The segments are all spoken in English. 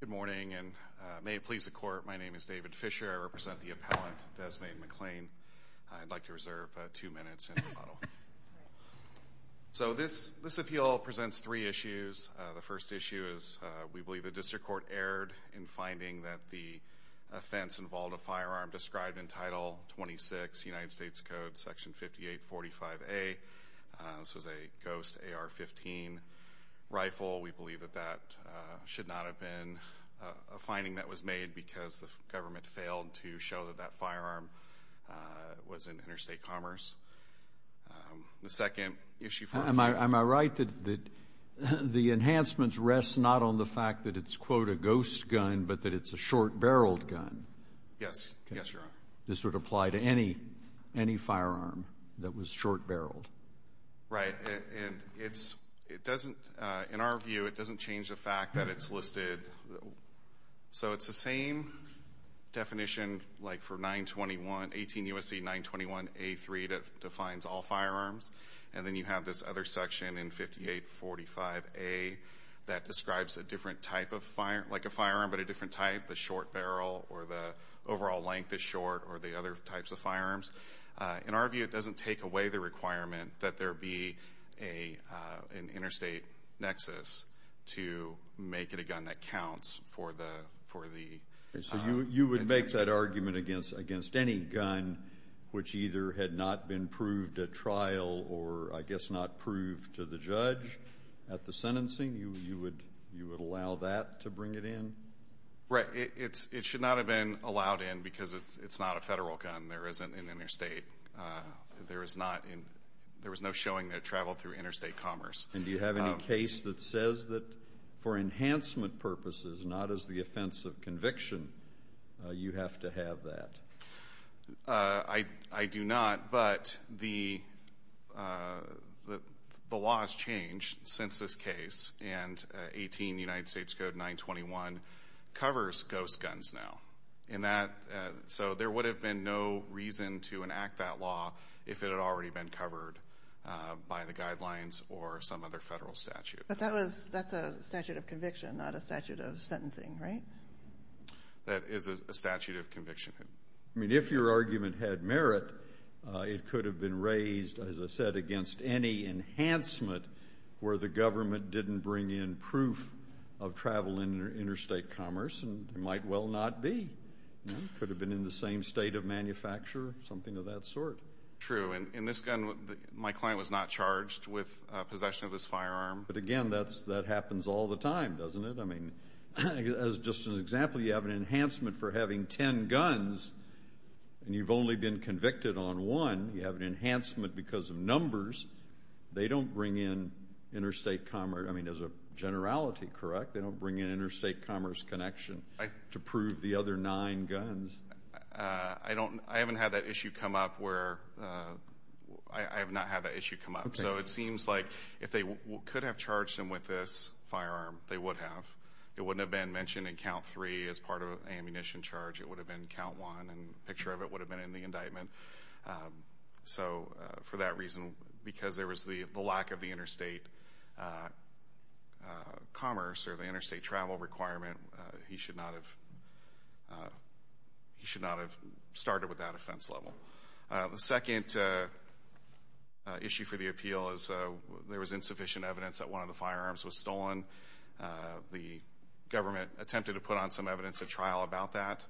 Good morning and may it please the court my name is David Fisher I represent the appellant Dezmaighne McClain. I'd like to reserve two minutes. So this this appeal presents three issues. The first issue is we believe the district court erred in finding that the offense involved a firearm described in Title 26 United States Code Section 5845A. This was a ghost AR-15 rifle. We believe that that did not have been a finding that was made because the government failed to show that that firearm was in interstate commerce. The second issue. Am I right that the enhancements rest not on the fact that it's quote a ghost gun but that it's a short-barreled gun? Yes. This would apply to any any firearm that was short-barreled? Right and it's it doesn't in our view it doesn't change the fact that it's listed so it's the same definition like for 921 18 U.S.C. 921 A3 that defines all firearms and then you have this other section in 5845A that describes a different type of fire like a firearm but a different type the short-barrel or the overall length is short or the other types of firearms. In our view it doesn't take away the requirement that there be a an interstate nexus to make it a gun that counts for the for the. So you you would make that argument against against any gun which either had not been proved at trial or I guess not proved to the judge at the sentencing you you would you would allow that to bring it in? Right it's it should not have been allowed in because it's not a federal gun there isn't an interstate there is not in there was no showing that traveled through interstate commerce. And do you have any case that says that for enhancement purposes not as the offense of conviction you have to have that? I I do not but the the law has changed since this case and 18 United States Code 921 covers ghost guns now in that so there would have been no reason to enact that law if it had already been covered by the guidelines or some other federal statute. But that was that's a statute of conviction not a statute of sentencing right? That is a statute of conviction. I mean if your argument had merit it could have been raised as I said against any enhancement where the government didn't bring in proof of travel in interstate commerce and might well not be. Could have been in the same state of manufacture something of that sort. True and in this gun my client was not charged with possession of this firearm. But again that's that happens all the time doesn't it? I mean as just an example you have an enhancement for having ten guns and you've only been convicted on one you have an enhancement because of numbers they don't bring in interstate commerce I mean as a generality correct they don't bring in interstate commerce connection to prove the other nine guns. I don't I haven't had that issue come up where I have not had that issue come up so it seems like if they could have charged him with this firearm they would have. It wouldn't have been mentioned in count three as part of an ammunition charge it would have been count one and picture of it would have been in the indictment. So for that reason because there was the lack of the interstate commerce or the interstate travel requirement he should not have he should not have started with that offense level. The second issue for the appeal is there was insufficient evidence that one of the firearms was stolen. The government attempted to put on some evidence at trial about that.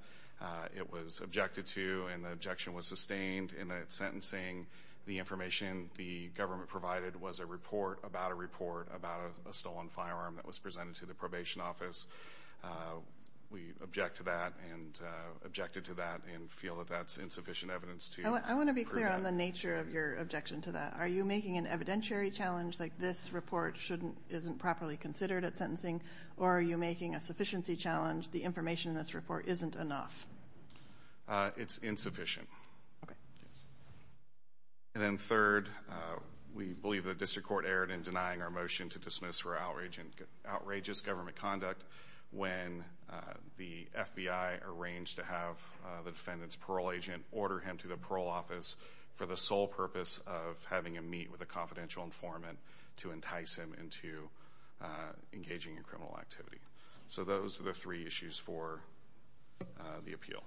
It was objected to and the objection was sustained in that sentencing the government provided was a report about a report about a stolen firearm that was presented to the probation office. We object to that and objected to that and feel that that's insufficient evidence. I want to be clear on the nature of your objection to that. Are you making an evidentiary challenge like this report shouldn't isn't properly considered at sentencing or are you making a sufficiency challenge the information in this report isn't enough? It's Third, we believe the district court erred in denying our motion to dismiss for outrageous government conduct when the FBI arranged to have the defendant's parole agent order him to the parole office for the sole purpose of having a meet with a confidential informant to entice him into engaging in criminal activity. So those are the three issues for the appeal.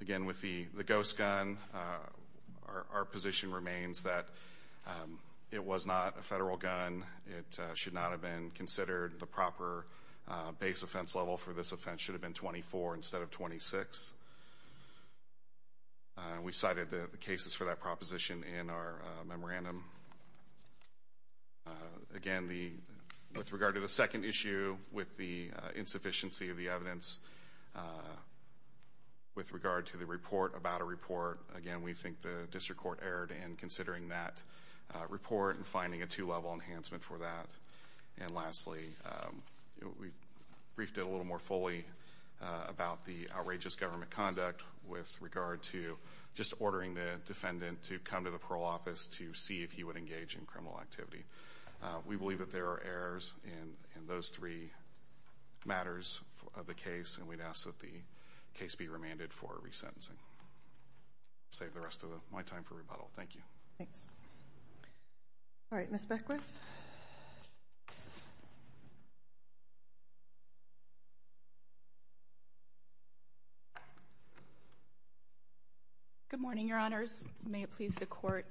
Again with the ghost gun our position remains that it was not a federal gun. It should not have been considered the proper base offense level for this offense should have been 24 instead of 26. We cited the cases for that proposition in our memorandum. Again with regard to the second issue with the insufficiency of the evidence with regard to the report about a report again we think the district court erred in considering that report and finding a two-level enhancement for that. And lastly we briefed it a little more fully about the outrageous government conduct with regard to just ordering the defendant to come to the parole office to see if he would engage in criminal activity. We believe that there are errors in those three matters of the case and we'd ask that the case be remanded for resentencing. Save the rest of my time for rebuttal. Thank you. Thanks. All right, Ms. Beckwith. Good morning, your honors. May it please the court.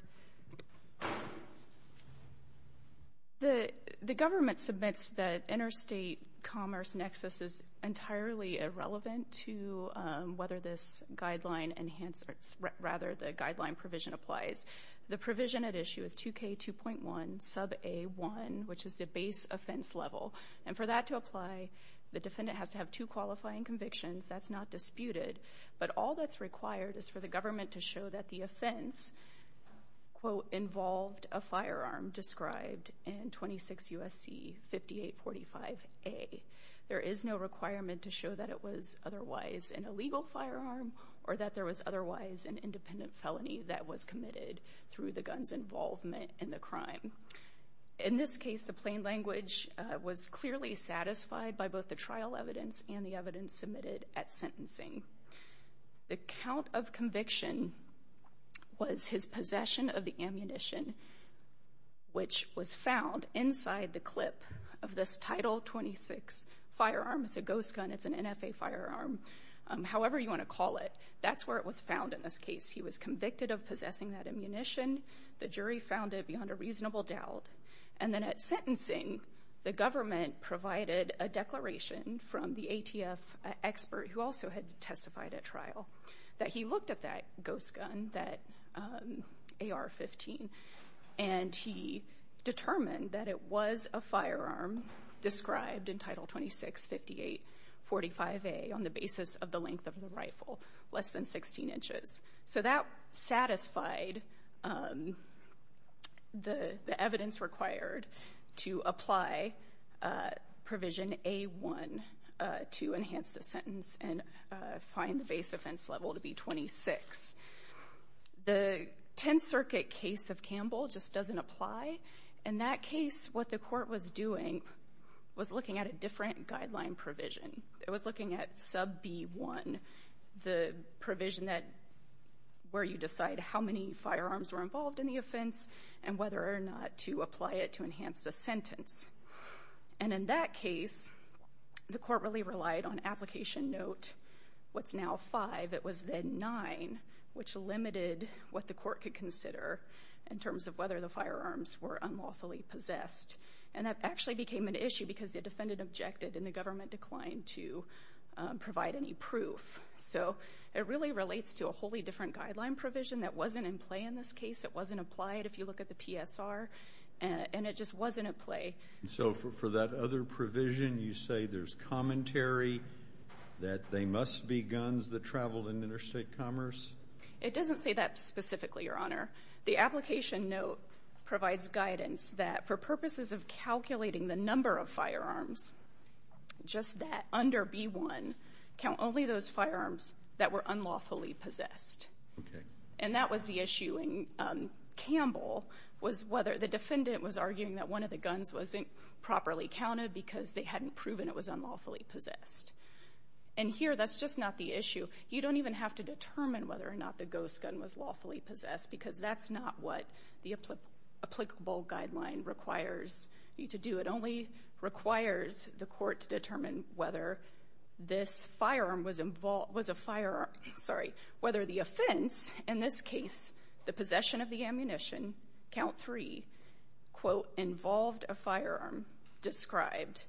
The government submits that interstate commerce nexus is entirely irrelevant to whether this guideline enhanced or rather the guideline provision applies. The provision at issue is 2k 2.1 sub a1 which is the base offense level and for that to apply the defendant has to have two qualifying convictions. That's not disputed but all that's required is for the government to show that the offense quote involved a firearm described in 26 USC 5845 a there is no requirement to show that it was otherwise an illegal firearm or that there was otherwise an independent felony that was committed through the guns involvement in the crime. In this case the plain language was clearly satisfied by both the trial evidence and the evidence submitted at sentencing. The count of conviction was his possession of the ammunition which was found inside the clip of this title 26 firearm. It's a ghost gun. It's an N. F. A. Firearm however you want to call it. That's where it was found. In this case he was convicted of possessing that ammunition. The jury found it beyond a reasonable doubt and then at sentencing the government provided a declaration from the A. T. F. Expert who A. R. 15 and he determined that it was a firearm described in title 26 5845 a on the basis of the length of the rifle less than 16 inches. So that satisfied the evidence required to apply provision a one to enhance the sentence and find the base offense level to be 26. The 10th Circuit case of Campbell just doesn't apply. In that case what the court was doing was looking at a different guideline provision. It was looking at sub B one the provision that where you decide how many firearms were involved in the offense and whether or not to apply it to enhance the sentence. And in that case the court really relied on application note what's now five. It was then nine which limited what the court could consider in terms of whether the firearms were unlawfully possessed. And that actually became an issue because the defendant objected and the government declined to provide any proof. So it really relates to a wholly different guideline provision that wasn't in play in this case. It wasn't applied if you look at the P. S. R. And it just wasn't at play. So for that other provision you say there's commentary that they must be guns that traveled in interstate commerce. It doesn't say that specifically your honor. The application note provides guidance that for purposes of calculating the number of firearms just that under B one count only those firearms that were unlawfully possessed. And that was the issue in Campbell was whether the because they hadn't proven it was unlawfully possessed. And here that's just not the issue. You don't even have to determine whether or not the ghost gun was lawfully possessed because that's not what the applicable guideline requires you to do. It only requires the court to determine whether this firearm was involved was a fire. Sorry whether the offense in this case the involved a firearm described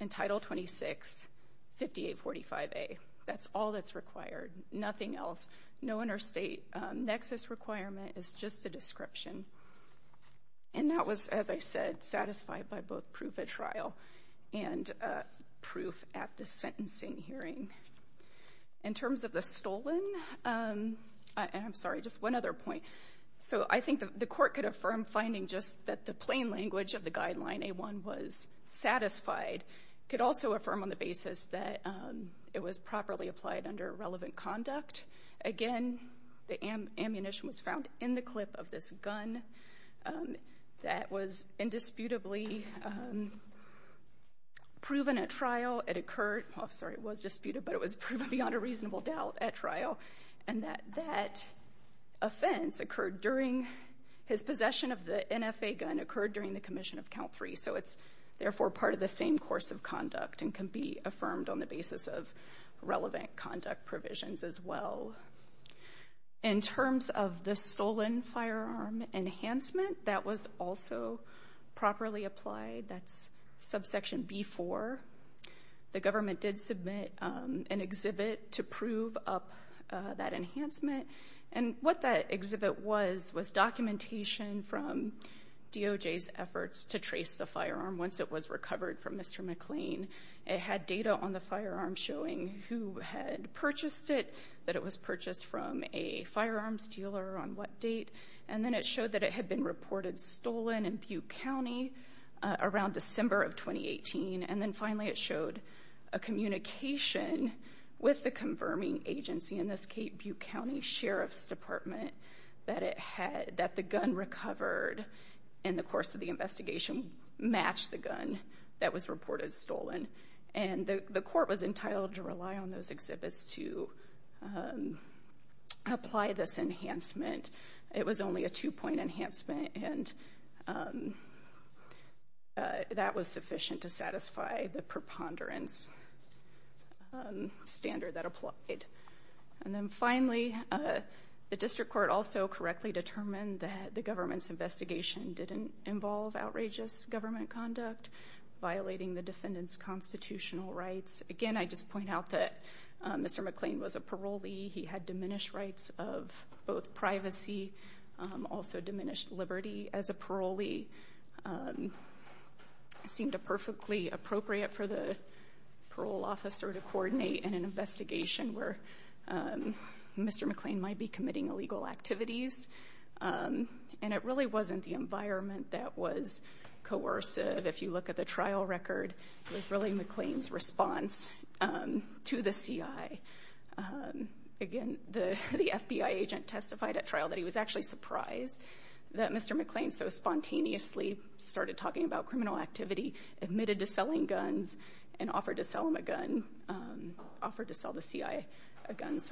in Title 26 58 45 a. That's all that's required. Nothing else. No interstate nexus requirement is just a description. And that was as I said satisfied by both proof of trial and proof at the sentencing hearing in terms of the stolen. I'm sorry just one other point. So I think that the court could affirm finding just that the plain language of the guideline a one was satisfied could also affirm on the basis that it was properly applied under relevant conduct. Again the am ammunition was found in the clip of this gun. That was indisputably. Proven at trial. It occurred. Sorry it was disputed but it was proven beyond a reasonable doubt at offense occurred during his possession of the NFA gun occurred during the commission of count three. So it's therefore part of the same course of conduct and can be affirmed on the basis of relevant conduct provisions as well. In terms of the stolen firearm enhancement that was also properly applied. That's subsection before the government did submit an exhibit to and what that exhibit was was documentation from DOJ's efforts to trace the firearm once it was recovered from Mr. McLean. It had data on the firearm showing who had purchased it. That it was purchased from a firearms dealer on what date. And then it showed that it had been reported stolen in Butte County. Around December of twenty eighteen and then finally it showed. A communication. With the confirming agency in this Cape Butte County Sheriff's Department. That it had that the gun recovered. In the course of the investigation. Match the gun. That was reported stolen. And the court was entitled to rely on those exhibits to. Apply this enhancement. It was only a two point enhancement and. That was sufficient to satisfy the ponderance. Standard that applied. And then finally. The district court also correctly determined that the government's investigation didn't involve outrageous government conduct. Violating the defendant's constitutional rights. Again I just point out that. Mr. McLean was a parolee. He had diminished rights of both privacy. Also diminished liberty as a parolee. Seemed a perfectly appropriate for the. Parole officer to coordinate an investigation where. Mr. McLean might be committing illegal activities. And it really wasn't the environment that was. Coercive if you look at the trial record. It's really McLean's response. To the CI. Again the FBI agent testified at trial that he was actually surprised. That Mr. McLean so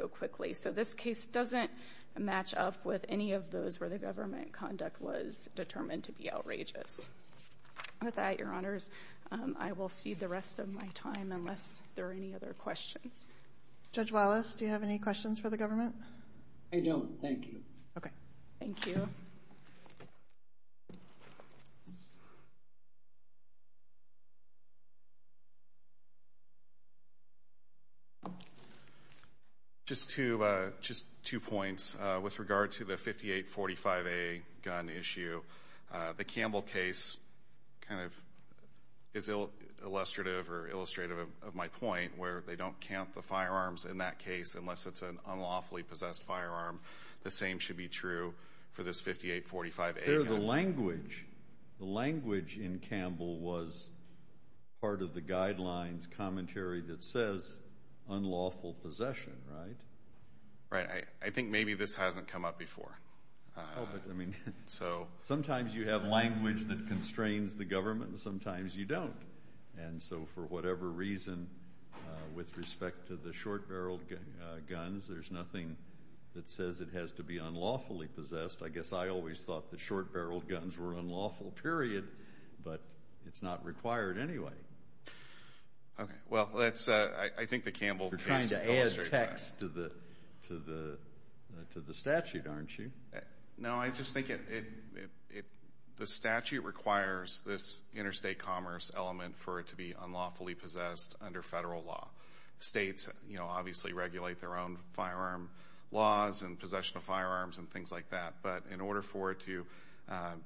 quickly. So this case doesn't. Match up with any of those where the government conduct was determined to be outrageous. With that your honors. I will see the rest of my time unless there are any other questions. Judge Wallace do you have any questions for the government. I don't think. OK. Thank you. Just to just two points with regard to the 5845 a gun issue. The Campbell case. Kind of. Is ill illustrative or illustrative of my point where they don't count the firearms in that case unless it's an unlawfully possessed firearm. The same should be true for this 5845 a gun. The language. The language in Campbell was. Part of the guidelines commentary that says. Unlawful possession right. Right I think maybe this hasn't come up before. I mean. So sometimes you have language that constrains the government sometimes you don't. And so for whatever reason. With respect to the short barreled guns there's nothing. That says it has to be unlawfully possessed. I guess I always thought the short barreled guns were unlawful period. But it's not required anyway. Well that's I think the Campbell. To the. To the statute aren't you. Now I just think it. The statute requires this interstate commerce element for it to be unlawfully possessed under federal law. States you know obviously regulate their own firearm. Laws and possession of firearms and things like that but in order for it to.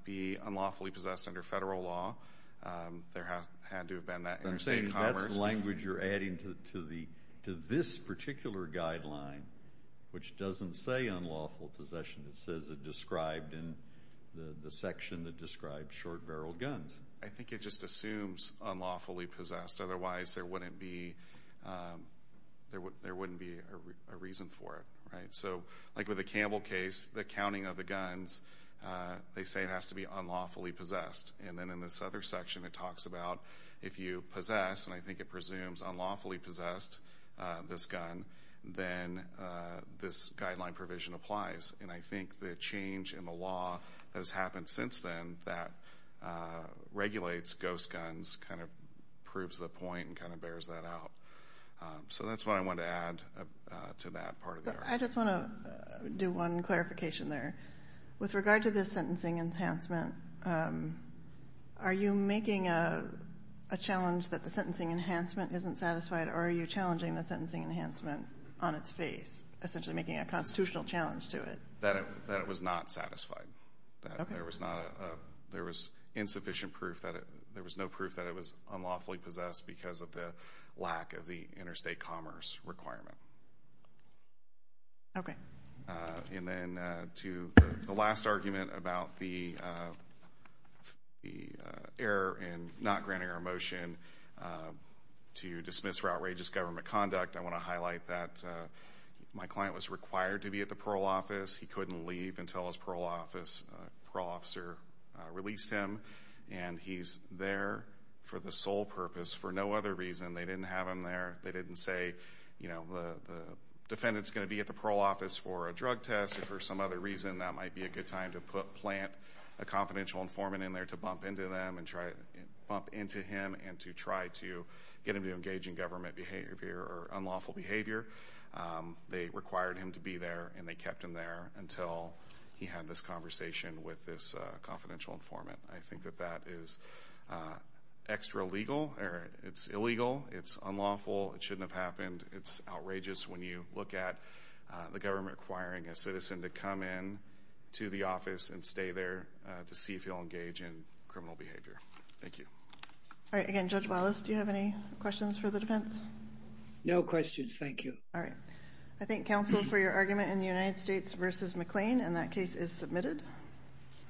Be unlawfully possessed under federal law. There have had to have been that interstate commerce. Language you're adding to the to this particular guideline. Which doesn't say unlawful possession it says it described in. The section that short barreled guns. I think it just assumes unlawfully possessed otherwise there wouldn't be. There were there wouldn't be a reason for. So like with the Campbell case the counting of the guns. They say it has to be unlawfully possessed and then in this other section it talks about. If you possess and I think it presumes unlawfully possessed. This gun. Then this guideline provision applies and I think the change in the law has happened since then that. Regulates ghost guns kind of. Proves the point and kind of bears that out. So that's what I want to add to that part of it. I just want to do one clarification there. With regard to this sentencing enhancement. Are you making. A challenge that the sentencing enhancement isn't satisfied or are you challenging the sentencing enhancement on its face. Essentially making a constitutional challenge to that that was not satisfied. There was not. There was insufficient proof that there was no proof that it was unlawfully possessed because of the lack of the interstate commerce requirement. And then to the last argument about the. The error in not granting a motion. To dismiss for outrageous government conduct I want to highlight that. My client was required to be at the parole office. He couldn't leave until his parole office parole officer released him. And he's there for the sole purpose for no other reason. They didn't have him there. They didn't say. You know the defendant's going to be at the parole office for a drug test or for some other reason. That might be a good time to put plant. A confidential informant in there to bump into them and try to bump into him and to try to get him to engage in government behavior or unlawful behavior. They required him to be there and they kept him there until he had this conversation with this confidential informant. I think that that is extra legal. It's illegal. It's unlawful. It shouldn't have happened. It's outrageous when you look at the government requiring a citizen to come in. To the office and stay there to see if you'll engage in criminal behavior. Thank you. All right. Again Judge Wallace do you have any questions for the defense. No questions. Thank you. All right. I think counsel for your argument in the United States versus McLean and that case is submitted.